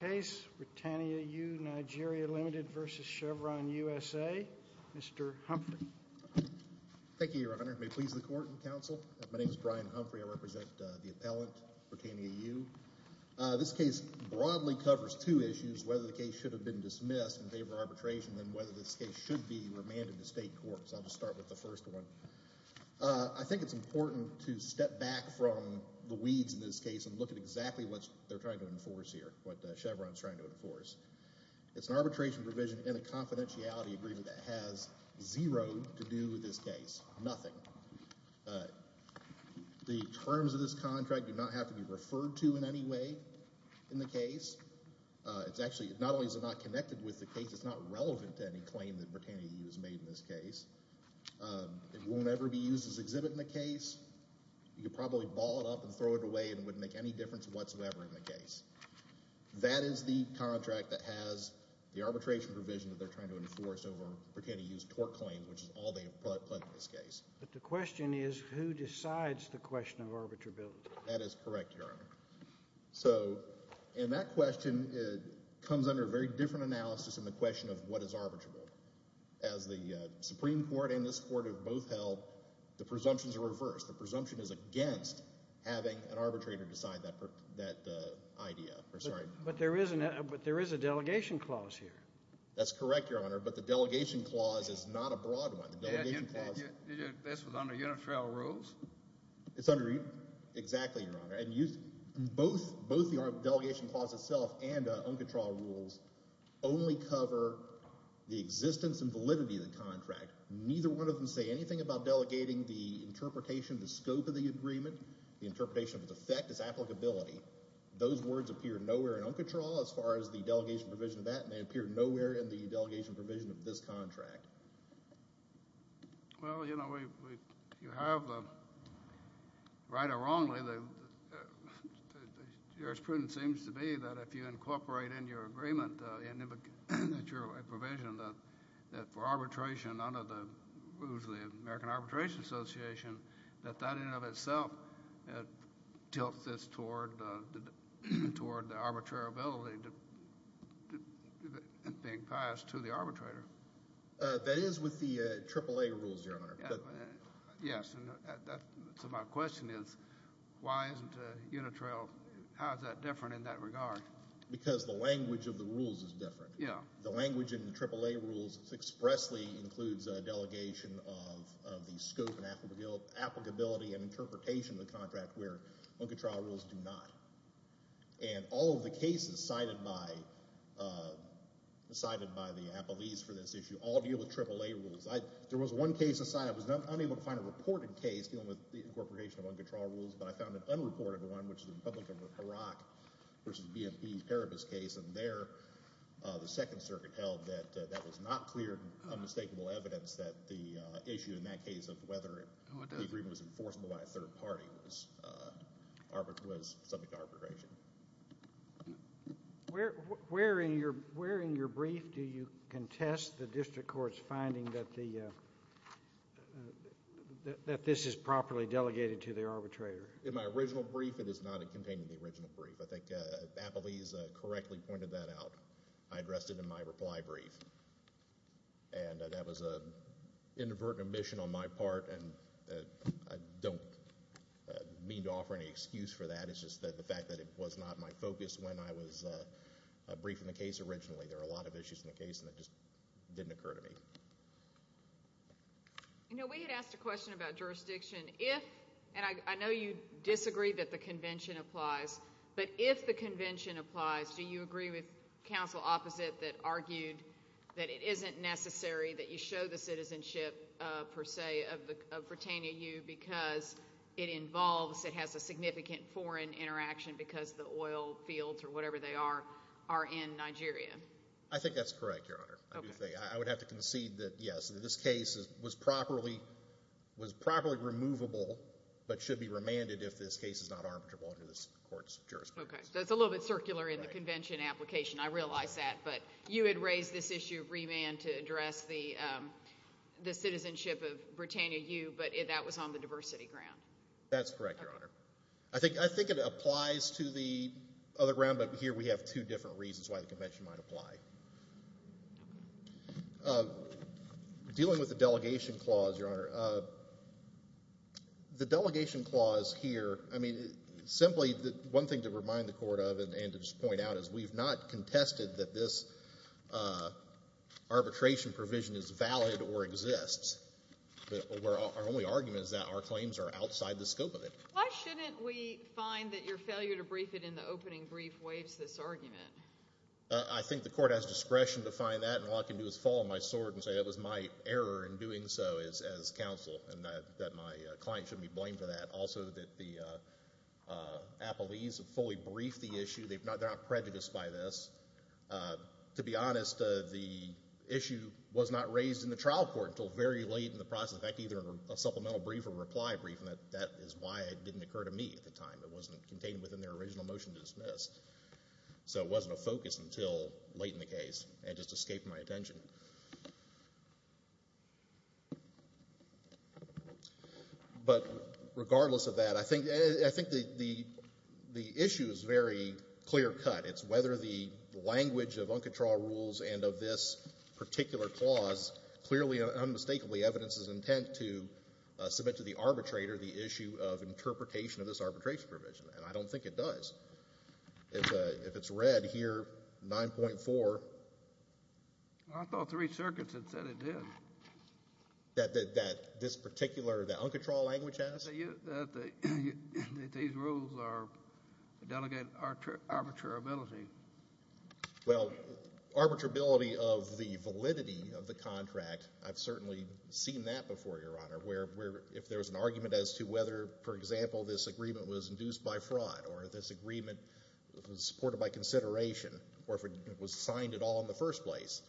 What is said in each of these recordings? Case Britannia-U Nigeria, Limited v. Chevron USA, Mr. Humphrey. Thank you, Your Honor. May it please the Court and the Council. My name is Brian Humphrey. I represent the appellant, Britannia-U. This case broadly covers two issues, whether the case should have been dismissed in favor of arbitration and whether this case should be remanded to state courts. I'll just start with the first one. I think it's important to step back from the weeds in this case and look at exactly what they're trying to enforce here, what Chevron's trying to enforce. It's an arbitration provision in a confidentiality agreement that has zero to do with this case, nothing. The terms of this contract do not have to be referred to in any way in the case. Not only is it not connected with the case, it's not relevant to any claim that Britannia-U has made in this case. It won't ever be used as exhibit in the case. You could probably ball it up and throw it away and it wouldn't make any difference whatsoever in the case. That is the contract that has the arbitration provision that they're trying to enforce over Britannia-U's tort claims, which is all they have pledged in this case. But the question is who decides the question of arbitrability. That is correct, Your Honor. So in that question, it comes under a very different analysis than the question of what is arbitrable. As the Supreme Court and this court have both held, the presumptions are reversed. The presumption is against having an arbitrator decide that idea. But there is a delegation clause here. That's correct, Your Honor, but the delegation clause is not a broad one. This was under unit trial rules? It's under – exactly, Your Honor. Both the delegation clause itself and uncontrolled rules only cover the existence and validity of the contract. Neither one of them say anything about delegating the interpretation, the scope of the agreement. The interpretation of its effect is applicability. Those words appear nowhere in uncontrolled as far as the delegation provision of that, and they appear nowhere in the delegation provision of this contract. Well, you know, you have, right or wrongly, the jurisprudence seems to be that if you incorporate in your agreement a provision that for arbitration under the rules of the American Arbitration Association, that that in and of itself tilts this toward the arbitrability being passed to the arbitrator. That is with the AAA rules, Your Honor. Yes, so my question is why isn't unit trial – how is that different in that regard? Because the language of the rules is different. The language in the AAA rules expressly includes a delegation of the scope and applicability and interpretation of the contract where uncontrolled rules do not. And all of the cases cited by the appellees for this issue all deal with AAA rules. There was one case aside. I was unable to find a reported case dealing with the incorporation of uncontrolled rules, but I found an unreported one, which is the Republican-Iraq v. BMP Paribas case, and there the Second Circuit held that that was not clear and unmistakable evidence that the issue in that case of whether the agreement was enforceable by a third party was subject to arbitration. Where in your brief do you contest the district court's finding that this is properly delegated to the arbitrator? In my original brief, it is not contained in the original brief. I think appellees correctly pointed that out. I addressed it in my reply brief, and that was an inadvertent omission on my part, and I don't mean to offer any excuse for that. It's just the fact that it was not my focus when I was briefing the case originally. There are a lot of issues in the case, and it just didn't occur to me. You know, we had asked a question about jurisdiction. If, and I know you disagree that the convention applies, but if the convention applies, do you agree with counsel opposite that argued that it isn't necessary that you show the citizenship per se of Britannia U because it involves, it has a significant foreign interaction because the oil fields or whatever they are are in Nigeria? I think that's correct, Your Honor. I would have to concede that, yes, this case was properly removable but should be remanded if this case is not arbitrable under this court's jurisprudence. Okay, so it's a little bit circular in the convention application. I realize that, but you had raised this issue of remand to address the citizenship of Britannia U, but that was on the diversity ground. That's correct, Your Honor. I think it applies to the other ground, but here we have two different reasons why the convention might apply. Dealing with the delegation clause, Your Honor, the delegation clause here, I mean, simply one thing to remind the court of and to just point out is we've not contested that this arbitration provision is valid or exists. Our only argument is that our claims are outside the scope of it. Why shouldn't we find that your failure to brief it in the opening brief waives this argument? I think the court has discretion to find that, and all I can do is fall on my sword and say that was my error in doing so as counsel and that my client shouldn't be blamed for that. Also that the appellees have fully briefed the issue. They're not prejudiced by this. To be honest, the issue was not raised in the trial court until very late in the process, in fact, either in a supplemental brief or reply brief, and that is why it didn't occur to me at the time. It wasn't contained within their original motion to dismiss. So it wasn't a focus until late in the case. It just escaped my attention. But regardless of that, I think the issue is very clear cut. It's whether the language of uncontrolled rules and of this particular clause clearly and unmistakably evidences intent to submit to the arbitrator the issue of interpretation of this arbitration provision, and I don't think it does. If it's read here, 9.4. I thought three circuits had said it did. That this particular uncontrolled language has? That these rules are delegate arbitrability. Well, arbitrability of the validity of the contract, I've certainly seen that before, Your Honor, where if there's an argument as to whether, for example, this agreement was induced by fraud or this agreement was supported by consideration or if it was signed at all in the first place,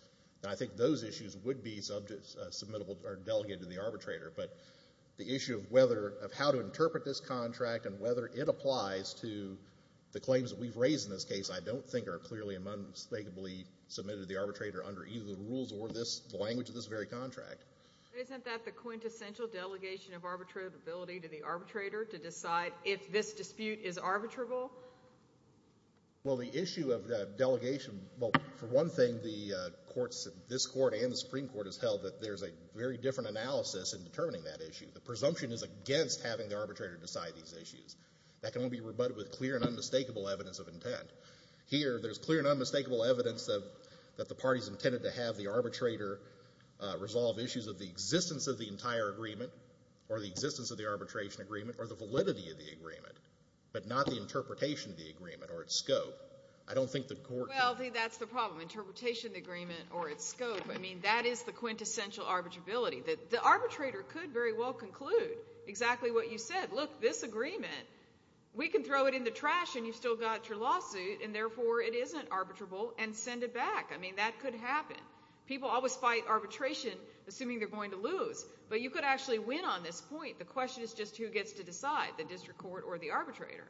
I think those issues would be delegated to the arbitrator. But the issue of how to interpret this contract and whether it applies to the claims that we've raised in this case I don't think are clearly and unmistakably submitted to the arbitrator under either the rules or the language of this very contract. Isn't that the quintessential delegation of arbitrability to the arbitrator to decide if this dispute is arbitrable? Well, the issue of delegation, well, for one thing, the courts, this court and the Supreme Court, has held that there's a very different analysis in determining that issue. The presumption is against having the arbitrator decide these issues. That can only be rebutted with clear and unmistakable evidence of intent. Here, there's clear and unmistakable evidence that the parties intended to have the arbitrator resolve issues of the existence of the entire agreement or the existence of the arbitration agreement or the validity of the agreement, but not the interpretation of the agreement or its scope. I don't think the courts... Well, that's the problem, interpretation of the agreement or its scope. I mean, that is the quintessential arbitrability. The arbitrator could very well conclude exactly what you said. Look, this agreement, we can throw it in the trash and you've still got your lawsuit, and therefore it isn't arbitrable, and send it back. I mean, that could happen. People always fight arbitration assuming they're going to lose. But you could actually win on this point. The question is just who gets to decide, the district court or the arbitrator.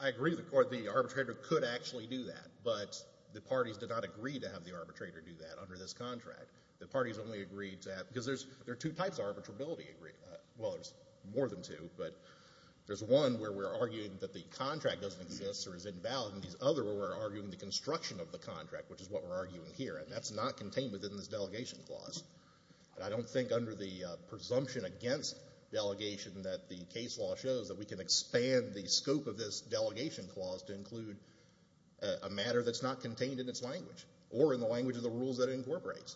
I agree with the court. The arbitrator could actually do that, but the parties did not agree to have the arbitrator do that under this contract. The parties only agreed to have it because there are two types of arbitrability agreements. Well, there's more than two, but there's one where we're arguing that the contract doesn't exist or is invalid, and there's another where we're arguing the construction of the contract, which is what we're arguing here, and that's not contained within this delegation clause. I don't think under the presumption against delegation that the case law shows that we can expand the scope of this delegation clause to include a matter that's not contained in its language or in the language of the rules that it incorporates.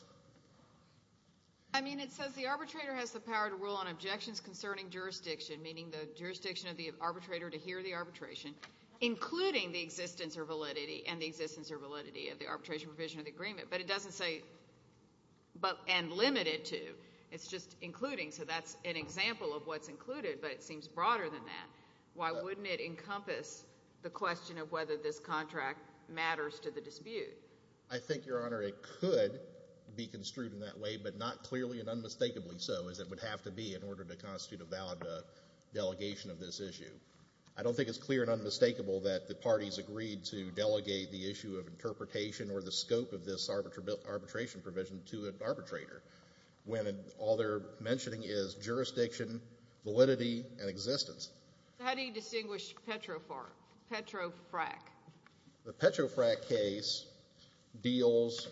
I mean, it says the arbitrator has the power to rule on objections concerning jurisdiction, meaning the jurisdiction of the arbitrator to hear the arbitration, including the existence or validity, and the existence or validity of the arbitration provision of the agreement. But it doesn't say and limit it to. It's just including, so that's an example of what's included, but it seems broader than that. Why wouldn't it encompass the question of whether this contract matters to the dispute? I think, Your Honor, it could be construed in that way, but not clearly and unmistakably so, as it would have to be in order to constitute a valid delegation of this issue. I don't think it's clear and unmistakable that the parties agreed to delegate the issue of interpretation or the scope of this arbitration provision to an arbitrator when all they're mentioning is jurisdiction, validity, and existence. How do you distinguish Petrofrac? The Petrofrac case deals.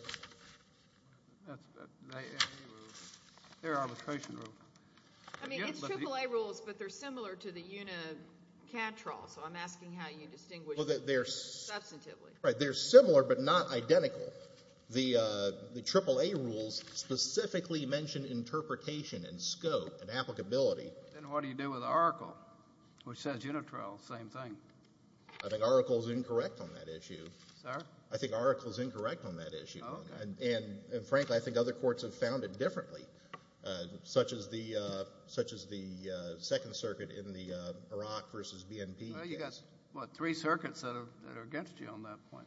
That's AAA rules. They're arbitration rules. I mean, it's AAA rules, but they're similar to the Unicantrol, so I'm asking how you distinguish them substantively. Right. They're similar but not identical. The AAA rules specifically mention interpretation and scope and applicability. Then what do you do with Oracle, which says Unitrol, same thing? I think Oracle is incorrect on that issue. Sir? I think Oracle is incorrect on that issue. Okay. And, frankly, I think other courts have found it differently, such as the Second Circuit in the Iraq v. BNP case. Well, you've got, what, three circuits that are against you on that point.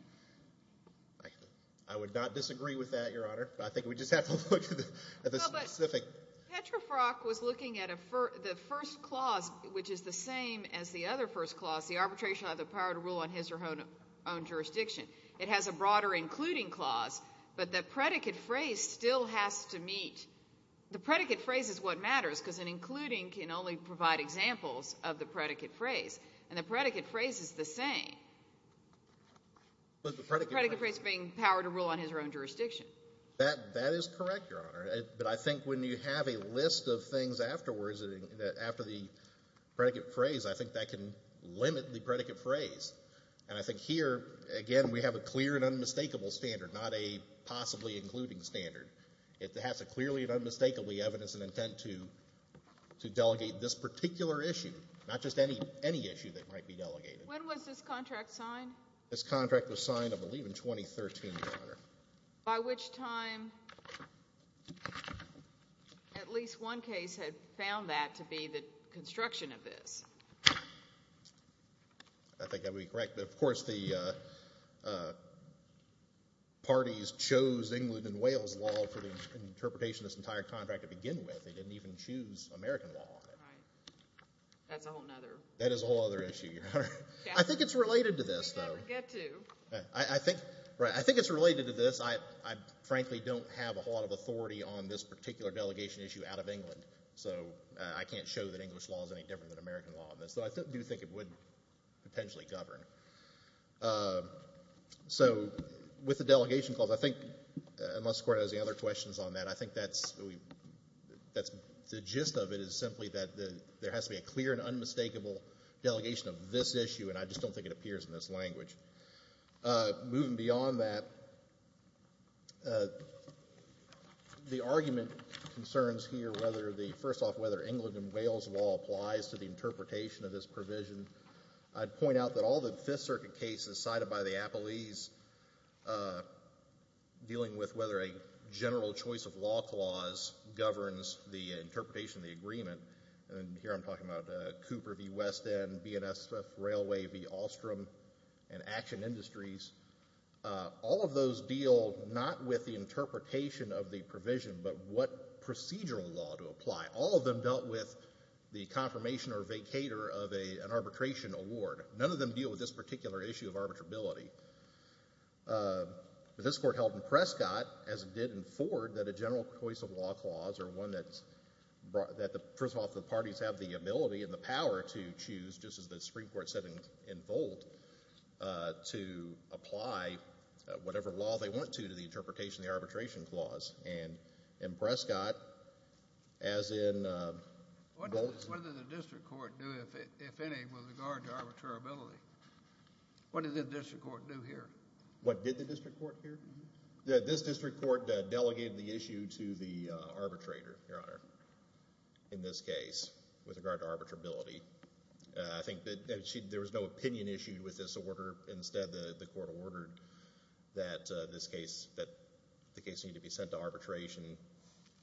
I would not disagree with that, Your Honor. I think we just have to look at the specific. Petrofrac was looking at the first clause, which is the same as the other first clause, the arbitration of the power to rule on his or her own jurisdiction. It has a broader including clause, but the predicate phrase still has to meet. The predicate phrase is what matters because an including can only provide examples of the predicate phrase. And the predicate phrase is the same. The predicate phrase being power to rule on his or her own jurisdiction. That is correct, Your Honor. But I think when you have a list of things afterwards, after the predicate phrase, I think that can limit the predicate phrase. And I think here, again, we have a clear and unmistakable standard, not a possibly including standard. It has a clearly and unmistakably evidence and intent to delegate this particular issue, not just any issue that might be delegated. When was this contract signed? This contract was signed, I believe, in 2013, Your Honor. By which time at least one case had found that to be the construction of this. I think that would be correct. Of course, the parties chose England and Wales law for the interpretation of this entire contract to begin with. They didn't even choose American law on it. That's a whole other issue. I think it's related to this, though. I think it's related to this. I frankly don't have a whole lot of authority on this particular delegation issue out of England, so I can't show that English law is any different than American law on this. So I do think it would potentially govern. So with the delegation clause, I think, unless the Court has any other questions on that, I think the gist of it is simply that there has to be a clear and unmistakable delegation of this issue, and I just don't think it appears in this language. Moving beyond that, the argument concerns here whether the first off, whether England and Wales law applies to the interpretation of this provision. I'd point out that all the Fifth Circuit cases cited by the appellees dealing with whether a general choice of law clause governs the interpretation of the agreement, and here I'm talking about Cooper v. West End, BNSF Railway v. Ostrom, and Action Industries, all of those deal not with the interpretation of the provision but what procedural law to apply. All of them dealt with the confirmation or vacator of an arbitration award. None of them deal with this particular issue of arbitrability. But this Court held in Prescott, as it did in Ford, that a general choice of law clause are one that the parties have the ability and the power to choose, just as the Supreme Court said in Volt, to apply whatever law they want to to the interpretation of the arbitration clause. And in Prescott, as in Volt— What did the district court do, if any, with regard to arbitrability? What did the district court do here? What did the district court do here? This district court delegated the issue to the arbitrator, Your Honor, in this case, with regard to arbitrability. I think that there was no opinion issued with this order. Instead, the court ordered that the case need to be sent to arbitration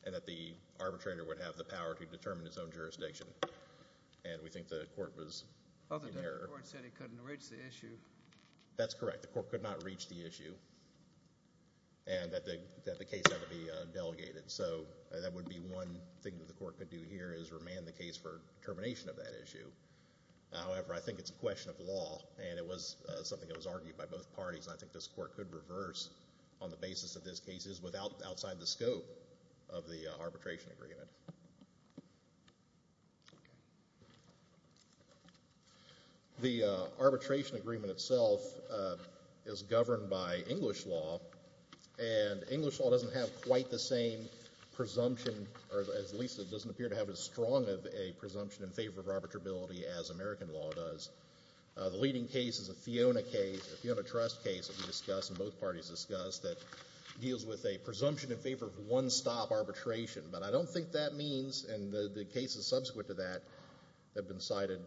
and that the arbitrator would have the power to determine his own jurisdiction. And we think the court was in error. Other than the court said he couldn't reach the issue. That's correct. The court could not reach the issue and that the case had to be delegated. So that would be one thing that the court could do here, is remand the case for termination of that issue. However, I think it's a question of law, and it was something that was argued by both parties, and I think this court could reverse on the basis of this case outside the scope of the arbitration agreement. The arbitration agreement itself is governed by English law, and English law doesn't have quite the same presumption, or at least it doesn't appear to have as strong of a presumption in favor of arbitrability as American law does. The leading case is a Fiona case, a Fiona Trust case that we discussed and both parties discussed, that deals with a presumption in favor of one-stop arbitration. But I don't think that means, and the cases subsequent to that have been cited,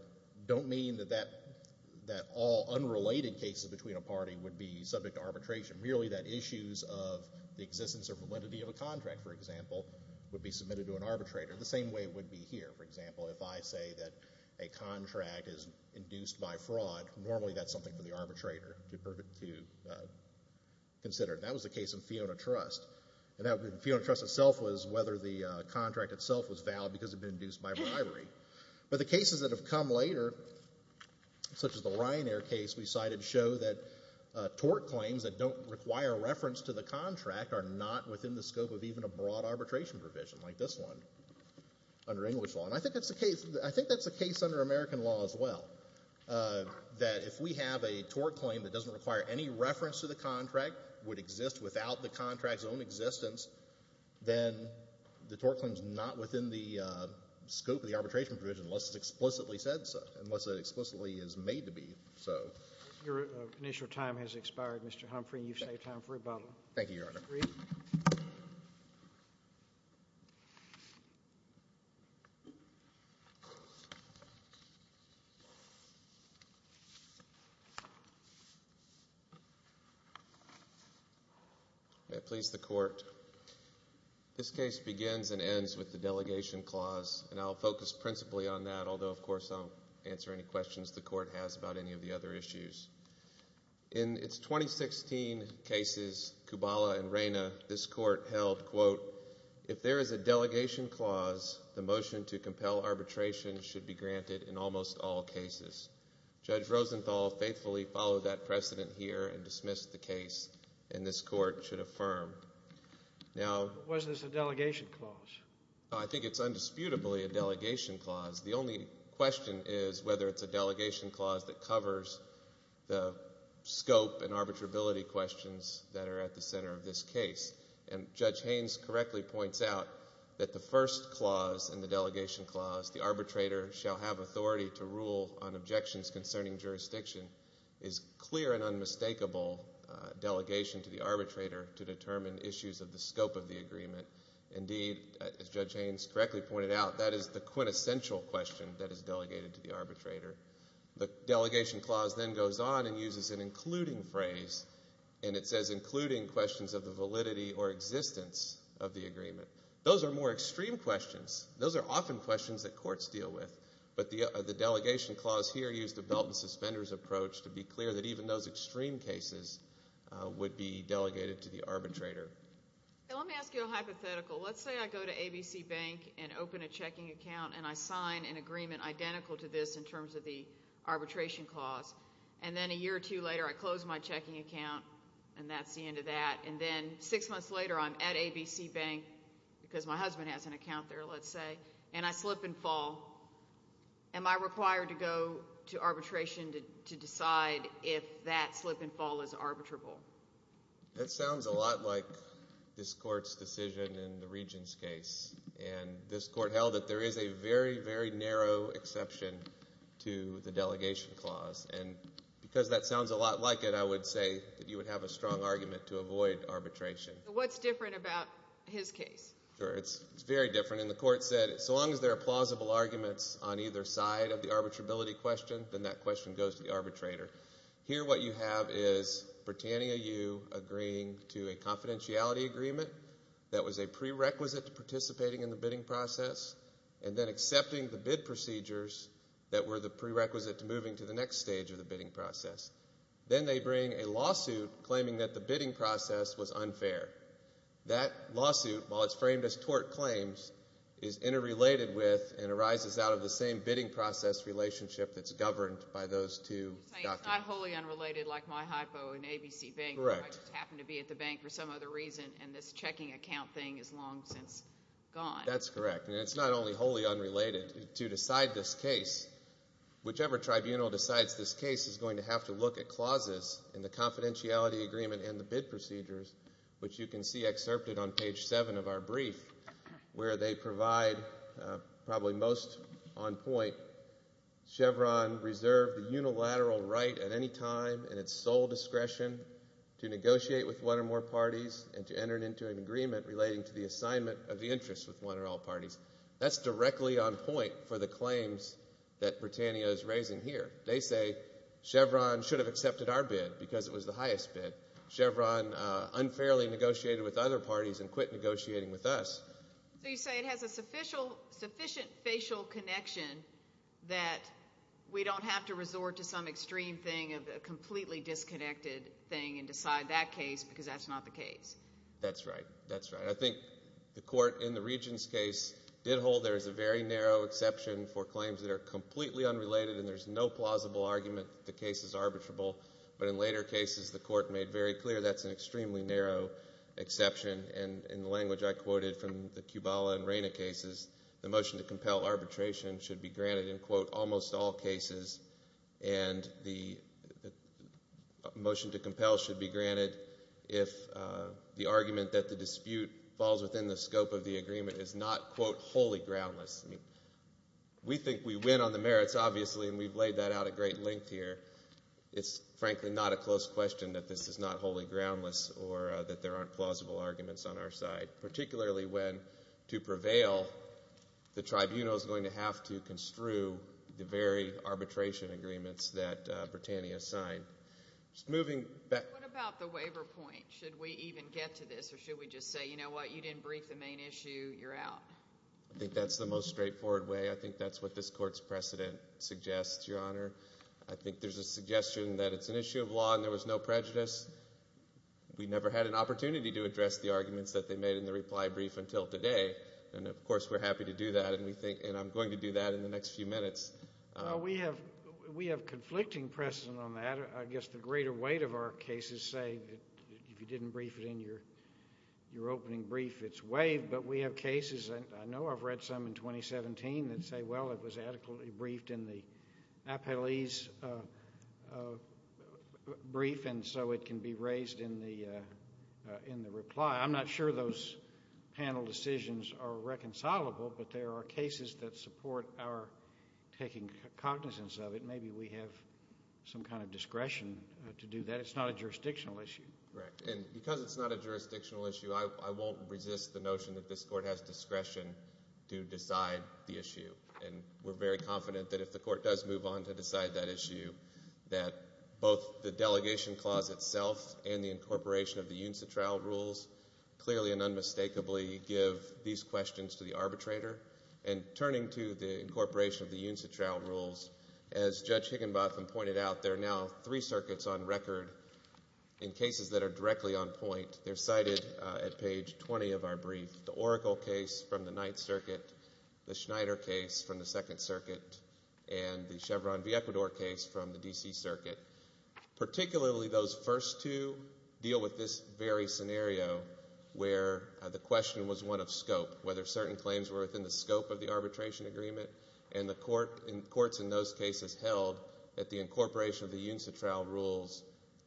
don't mean that all unrelated cases between a party would be subject to arbitration. Merely that issues of the existence or validity of a contract, for example, would be submitted to an arbitrator. The same way it would be here, for example, if I say that a contract is induced by fraud, normally that's something for the arbitrator to consider. That was the case of Fiona Trust, and Fiona Trust itself was whether the contract itself was valid because it had been induced by bribery. But the cases that have come later, such as the Ryanair case we cited, show that tort claims that don't require reference to the contract are not within the scope of even a broad arbitration provision, like this one, under English law. And I think that's the case under American law as well, that if we have a tort claim that doesn't require any reference to the contract, would exist without the contract's own existence, then the tort claim is not within the scope of the arbitration provision unless it's explicitly said so, unless it explicitly is made to be so. Your initial time has expired, Mr. Humphrey. You've saved time for rebuttal. Thank you, Your Honor. May it please the Court. This case begins and ends with the delegation clause, and I'll focus principally on that, although, of course, I'll answer any questions the Court has about any of the other issues. In its 2016 cases, Kubala and Reyna, this Court held, quote, if there is a delegation clause, the motion to compel arbitration should be granted in almost all cases. Judge Rosenthal faithfully followed that precedent here and dismissed the case, and this Court should affirm. Now, Wasn't this a delegation clause? I think it's undisputably a delegation clause. The only question is whether it's a delegation clause that covers the scope and arbitrability questions that are at the center of this case. And Judge Haynes correctly points out that the first clause in the delegation clause, the arbitrator shall have authority to rule on objections concerning jurisdiction, is clear and unmistakable delegation to the arbitrator to determine issues of the scope of the agreement. Indeed, as Judge Haynes correctly pointed out, that is the quintessential question that is delegated to the arbitrator. The delegation clause then goes on and uses an including phrase, and it says including questions of the validity or existence of the agreement. Those are more extreme questions. Those are often questions that courts deal with. But the delegation clause here used a belt and suspenders approach to be clear that even those extreme cases would be delegated to the arbitrator. Let me ask you a hypothetical. Let's say I go to ABC Bank and open a checking account and I sign an agreement identical to this in terms of the arbitration clause, and then a year or two later I close my checking account, and that's the end of that. And then six months later I'm at ABC Bank because my husband has an account there, let's say, and I slip and fall. Am I required to go to arbitration to decide if that slip and fall is arbitrable? That sounds a lot like this court's decision in the regent's case. And this court held that there is a very, very narrow exception to the delegation clause. And because that sounds a lot like it, I would say that you would have a strong argument to avoid arbitration. What's different about his case? It's very different. And the court said so long as there are plausible arguments on either side of the arbitrability question, then that question goes to the arbitrator. Here what you have is pertaining a you agreeing to a confidentiality agreement that was a prerequisite to participating in the bidding process and then accepting the bid procedures that were the prerequisite to moving to the next stage of the bidding process. Then they bring a lawsuit claiming that the bidding process was unfair. That lawsuit, while it's framed as tort claims, is interrelated with and arises out of the same bidding process relationship that's governed by those two documents. You're saying it's not wholly unrelated like my hypo in ABC Bank. Correct. I just happen to be at the bank for some other reason, and this checking account thing is long since gone. That's correct, and it's not only wholly unrelated. To decide this case, whichever tribunal decides this case is going to have to look at clauses in the confidentiality agreement and the bid procedures, which you can see excerpted on page 7 of our brief, where they provide, probably most on point, Chevron reserve the unilateral right at any time in its sole discretion to negotiate with one or more parties and to enter into an agreement relating to the assignment of the interest with one or all parties. That's directly on point for the claims that Britannia is raising here. They say Chevron should have accepted our bid because it was the highest bid. Chevron unfairly negotiated with other parties and quit negotiating with us. So you say it has a sufficient facial connection that we don't have to resort to some extreme thing of a completely disconnected thing and decide that case because that's not the case. That's right. I think the court in the Regents' case did hold there is a very narrow exception for claims that are completely unrelated and there's no plausible argument that the case is arbitrable, but in later cases the court made very clear that's an extremely narrow exception. In the language I quoted from the Kubala and Reyna cases, the motion to compel arbitration should be granted in, quote, the motion to compel should be granted if the argument that the dispute falls within the scope of the agreement is not, quote, wholly groundless. We think we win on the merits, obviously, and we've laid that out at great length here. It's frankly not a close question that this is not wholly groundless or that there aren't plausible arguments on our side, particularly when to prevail the tribunal is going to have to construe the very arbitration agreements that Britannia signed. What about the waiver point? Should we even get to this or should we just say, you know what, you didn't brief the main issue, you're out? I think that's the most straightforward way. I think that's what this court's precedent suggests, Your Honor. I think there's a suggestion that it's an issue of law and there was no prejudice. We never had an opportunity to address the arguments that they made in the reply brief until today, and of course we're happy to do that, and I'm going to do that in the next few minutes. We have conflicting precedent on that. I guess the greater weight of our cases say that if you didn't brief it in your opening brief, it's waived, but we have cases, and I know I've read some in 2017, that say, well, it was adequately briefed in the appellee's brief and so it can be raised in the reply. I'm not sure those panel decisions are reconcilable, but there are cases that support our taking cognizance of it. Maybe we have some kind of discretion to do that. It's not a jurisdictional issue. Because it's not a jurisdictional issue, I won't resist the notion that this court has discretion to decide the issue, and we're very confident that if the court does move on to decide that issue, that both the delegation clause itself and the incorporation of the UNSA trial rules clearly and unmistakably give these questions to the arbitrator. And turning to the incorporation of the UNSA trial rules, as Judge Higginbotham pointed out, there are now three circuits on record in cases that are directly on point. They're cited at page 20 of our brief, the Oracle case from the Ninth Circuit, the Schneider case from the Second Circuit, and the Chevron v. Ecuador case from the D.C. Circuit. Particularly those first two deal with this very scenario where the question was one of scope, whether certain claims were within the scope of the arbitration agreement. And the courts in those cases held that the incorporation of the UNSA trial rules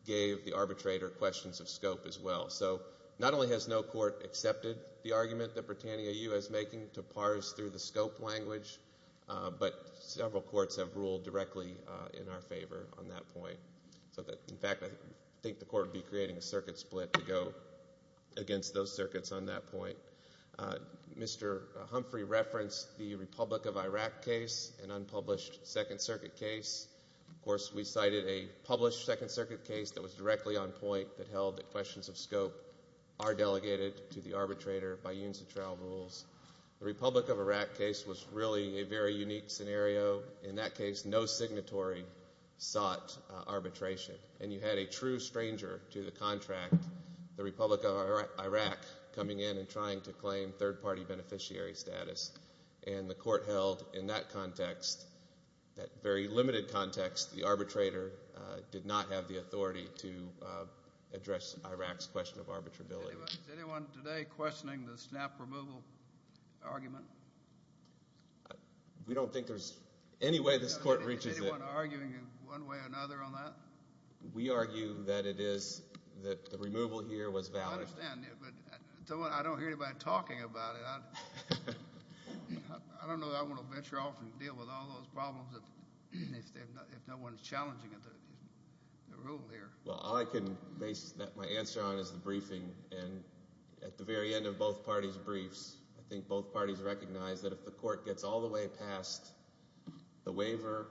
gave the arbitrator questions of scope as well. So not only has no court accepted the argument that Britannia U.S. is making to parse through the scope language, but several courts have ruled directly in our favor on that point. In fact, I think the court would be creating a circuit split to go against those circuits on that point. Mr. Humphrey referenced the Republic of Iraq case, an unpublished Second Circuit case. Of course, we cited a published Second Circuit case that was directly on point that held that questions of scope are delegated to the arbitrator by UNSA trial rules. The Republic of Iraq case was really a very unique scenario. In that case, no signatory sought arbitration. And you had a true stranger to the contract, the Republic of Iraq, coming in and trying to claim third-party beneficiary status. And the court held in that context, that very limited context, the arbitrator did not have the authority to address Iraq's question of arbitrability. Is anyone today questioning the snap removal argument? We don't think there's any way this court reaches it. Is anyone arguing one way or another on that? We argue that it is, that the removal here was valid. I understand, but I don't hear anybody talking about it. I don't know that I want to venture off and deal with all those problems if no one is challenging the rule here. Well, all I can base my answer on is the briefing, and at the very end of both parties' briefs, I think both parties recognize that if the court gets all the way past the waiver,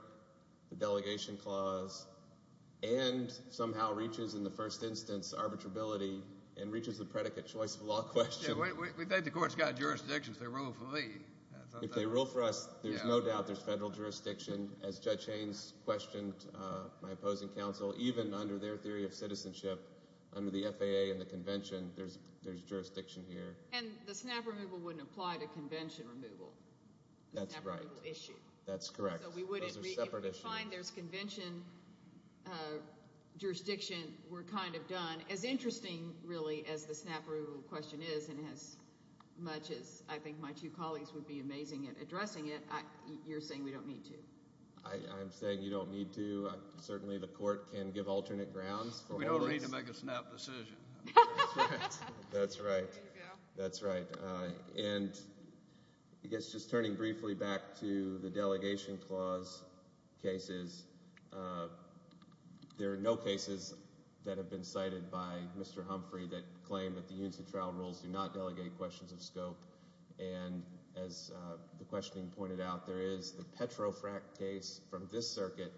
the delegation clause, and somehow reaches in the first instance arbitrability and reaches the predicate choice of law question. We think the court's got jurisdiction if they rule for me. If they rule for us, there's no doubt there's federal jurisdiction. As Judge Haynes questioned my opposing counsel, even under their theory of citizenship, under the FAA and the convention, there's jurisdiction here. And the snap removal wouldn't apply to convention removal. That's right. The snap removal issue. That's correct. Those are separate issues. If we find there's convention jurisdiction, we're kind of done. As interesting, really, as the snap removal question is, and as much as I think my two colleagues would be amazing at addressing it, you're saying we don't need to. I'm saying you don't need to. Certainly the court can give alternate grounds for all this. We don't need to make a snap decision. That's right. There you go. That's right. And I guess just turning briefly back to the delegation clause cases, there are no cases that have been cited by Mr. Humphrey that claim that the EUNSA trial rules do not delegate questions of scope. And as the questioning pointed out, there is the Petrofract case from this circuit,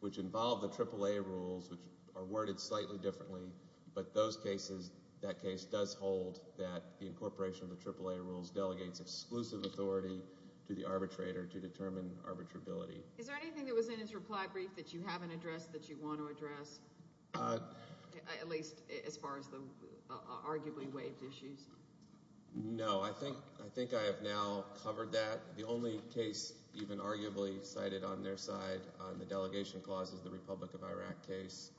which involved the AAA rules, which are worded slightly differently, but that case does hold that the incorporation of the AAA rules delegates exclusive authority to the arbitrator to determine arbitrability. Is there anything that was in his reply brief that you haven't addressed that you want to address, at least as far as the arguably waived issues? No. I think I have now covered that. The only case even arguably cited on their side on the delegation clause is the Republic of Iraq case,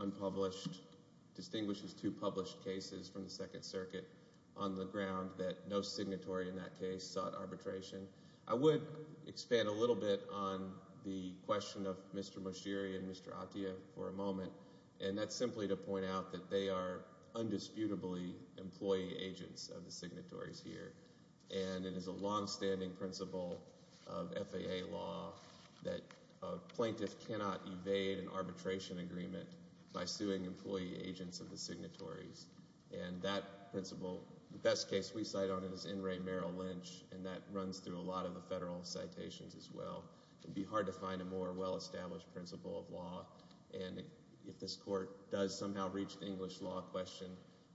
unpublished, distinguishes two published cases from the Second Circuit on the ground that no signatory in that case sought arbitration. I would expand a little bit on the question of Mr. Moshiri and Mr. Atiyah for a moment, and that's simply to point out that they are undisputably employee agents of the signatories here, and it is a longstanding principle of FAA law that a plaintiff cannot evade an arbitration agreement by suing employee agents of the signatories. And that principle, the best case we cite on it is N. Ray Merrill Lynch, and that runs through a lot of the federal citations as well. It would be hard to find a more well-established principle of law, and if this court does somehow reach the English law question,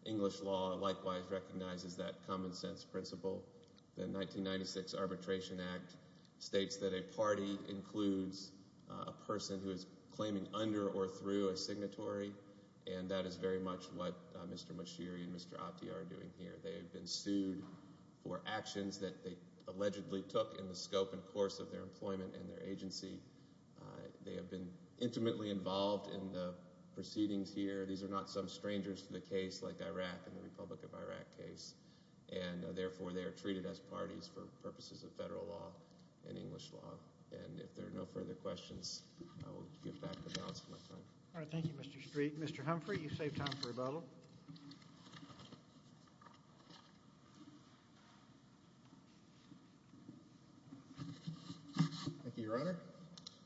English law likewise recognizes that common sense principle. The 1996 Arbitration Act states that a party includes a person who is claiming under or through a signatory, and that is very much what Mr. Moshiri and Mr. Atiyah are doing here. They have been sued for actions that they allegedly took in the scope and course of their employment and their agency. They have been intimately involved in the proceedings here. These are not some strangers to the case like Iraq and the Republic of Iraq case, and therefore they are treated as parties for purposes of federal law and English law. And if there are no further questions, I will give back the balance of my time. All right. Thank you, Mr. Street. Mr. Humphrey, you've saved time for rebuttal. Thank you, Your Honor.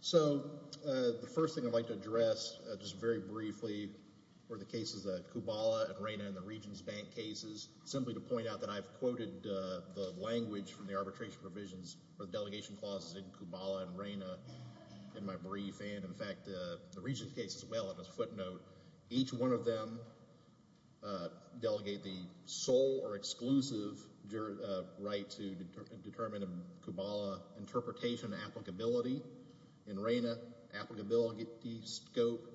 So the first thing I'd like to address just very briefly were the cases of Kubala and Reyna and the Regents Bank cases, simply to point out that I've quoted the language from the arbitration provisions for the delegation clauses in Kubala and Reyna in my brief, and in fact the Regents case as well on this footnote. Each one of them delegate the sole or exclusive right to determine a Kubala interpretation applicability. In Reyna, applicability, scope,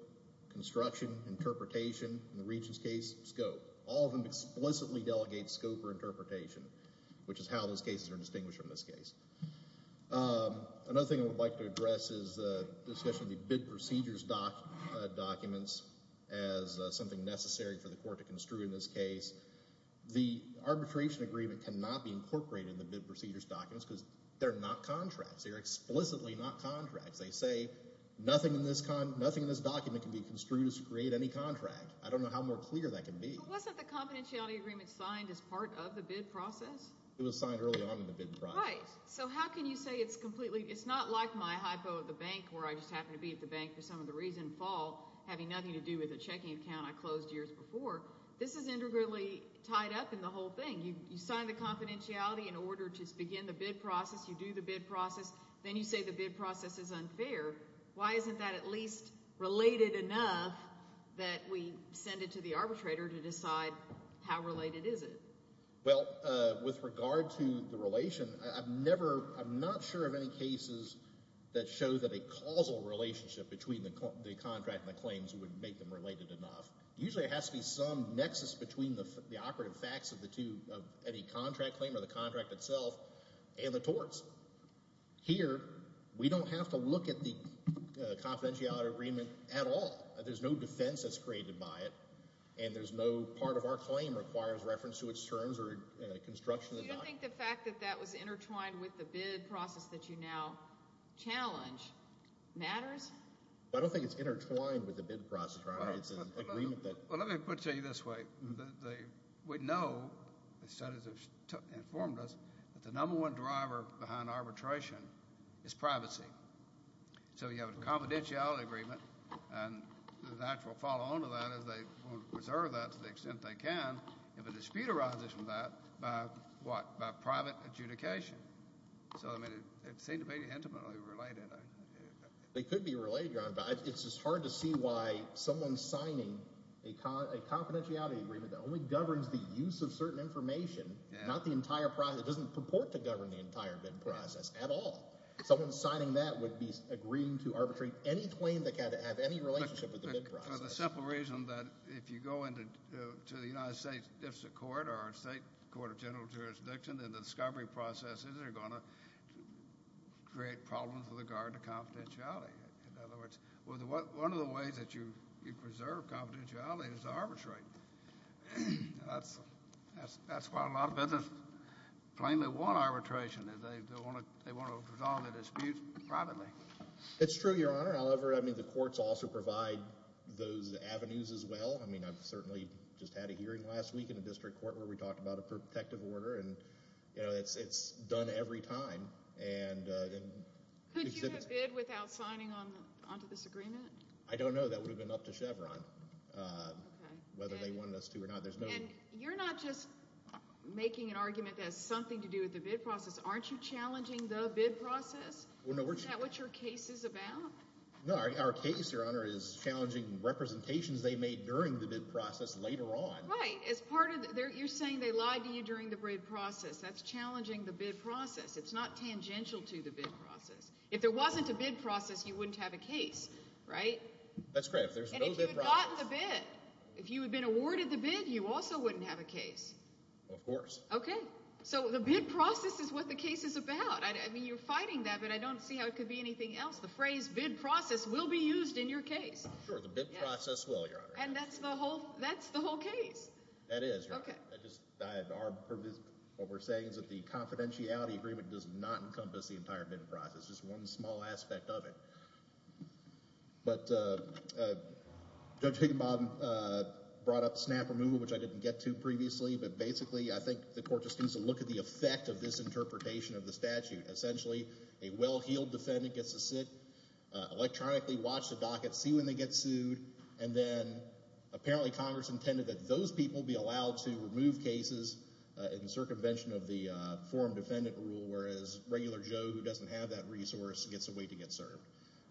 construction, interpretation. In the Regents case, scope. All of them explicitly delegate scope or interpretation, which is how those cases are distinguished from this case. Another thing I would like to address is the discussion of the bid procedures documents as something necessary for the court to construe in this case. The arbitration agreement cannot be incorporated in the bid procedures documents because they're not contracts. They're explicitly not contracts. They say nothing in this document can be construed as to create any contract. I don't know how more clear that can be. But wasn't the confidentiality agreement signed as part of the bid process? It was signed early on in the bid process. All right. So how can you say it's completely—it's not like my hypo at the bank where I just happen to be at the bank for some of the reason fall, having nothing to do with a checking account I closed years before. This is integrally tied up in the whole thing. You sign the confidentiality in order to begin the bid process. You do the bid process. Then you say the bid process is unfair. Why isn't that at least related enough that we send it to the arbitrator to decide how related is it? Well, with regard to the relation, I've never—I'm not sure of any cases that show that a causal relationship between the contract and the claims would make them related enough. Usually it has to be some nexus between the operative facts of the two, of any contract claim or the contract itself, and the torts. Here we don't have to look at the confidentiality agreement at all. There's no defense that's created by it, and there's no part of our claim requires reference to its terms or construction of the document. You don't think the fact that that was intertwined with the bid process that you now challenge matters? I don't think it's intertwined with the bid process, right? It's an agreement that— Well, let me put it to you this way. We know, the studies have informed us, that the number one driver behind arbitration is privacy. So you have a confidentiality agreement, and the natural follow-on to that is they want to preserve that to the extent they can if a dispute arises from that by what? By private adjudication. So, I mean, it seemed to be intimately related. It could be related, but it's just hard to see why someone signing a confidentiality agreement that only governs the use of certain information, not the entire process, it doesn't purport to govern the entire bid process at all. Someone signing that would be agreeing to arbitrate any claim that had to have any relationship with the bid process. For the simple reason that if you go into the United States District Court or State Court of General Jurisdiction, then the discovery processes are going to create problems with regard to confidentiality. In other words, one of the ways that you preserve confidentiality is to arbitrate. That's why a lot of business claim they want arbitration. They want to resolve a dispute privately. It's true, Your Honor. I mean, the courts also provide those avenues as well. I mean, I've certainly just had a hearing last week in the district court where we talked about a protective order, and it's done every time. Could you have bid without signing onto this agreement? I don't know. That would have been up to Chevron whether they wanted us to or not. And you're not just making an argument that has something to do with the bid process. Aren't you challenging the bid process? Is that what your case is about? No, our case, Your Honor, is challenging representations they made during the bid process later on. Right. You're saying they lied to you during the bid process. That's challenging the bid process. It's not tangential to the bid process. If there wasn't a bid process, you wouldn't have a case, right? That's correct. And if you had gotten the bid, if you had been awarded the bid, you also wouldn't have a case. Of course. Okay. So the bid process is what the case is about. I mean, you're fighting that, but I don't see how it could be anything else. The phrase bid process will be used in your case. Sure, the bid process will, Your Honor. And that's the whole case. That is, Your Honor. Okay. What we're saying is that the confidentiality agreement does not encompass the entire bid process, just one small aspect of it. But Judge Higginbottom brought up snap removal, which I didn't get to previously, but basically I think the court just needs to look at the effect of this interpretation of the statute. Essentially, a well-heeled defendant gets to sit, electronically watch the docket, see when they get sued, and then apparently Congress intended that those people be allowed to remove cases in circumvention of the forum defendant rule, whereas regular Joe who doesn't have that resource gets a way to get served.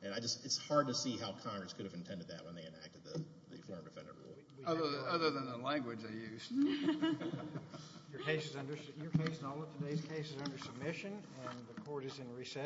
It's hard to see how Congress could have intended that when they enacted the forum defendant rule. Other than the language they used. Your case and all of today's cases are under submission, and the court is in recess.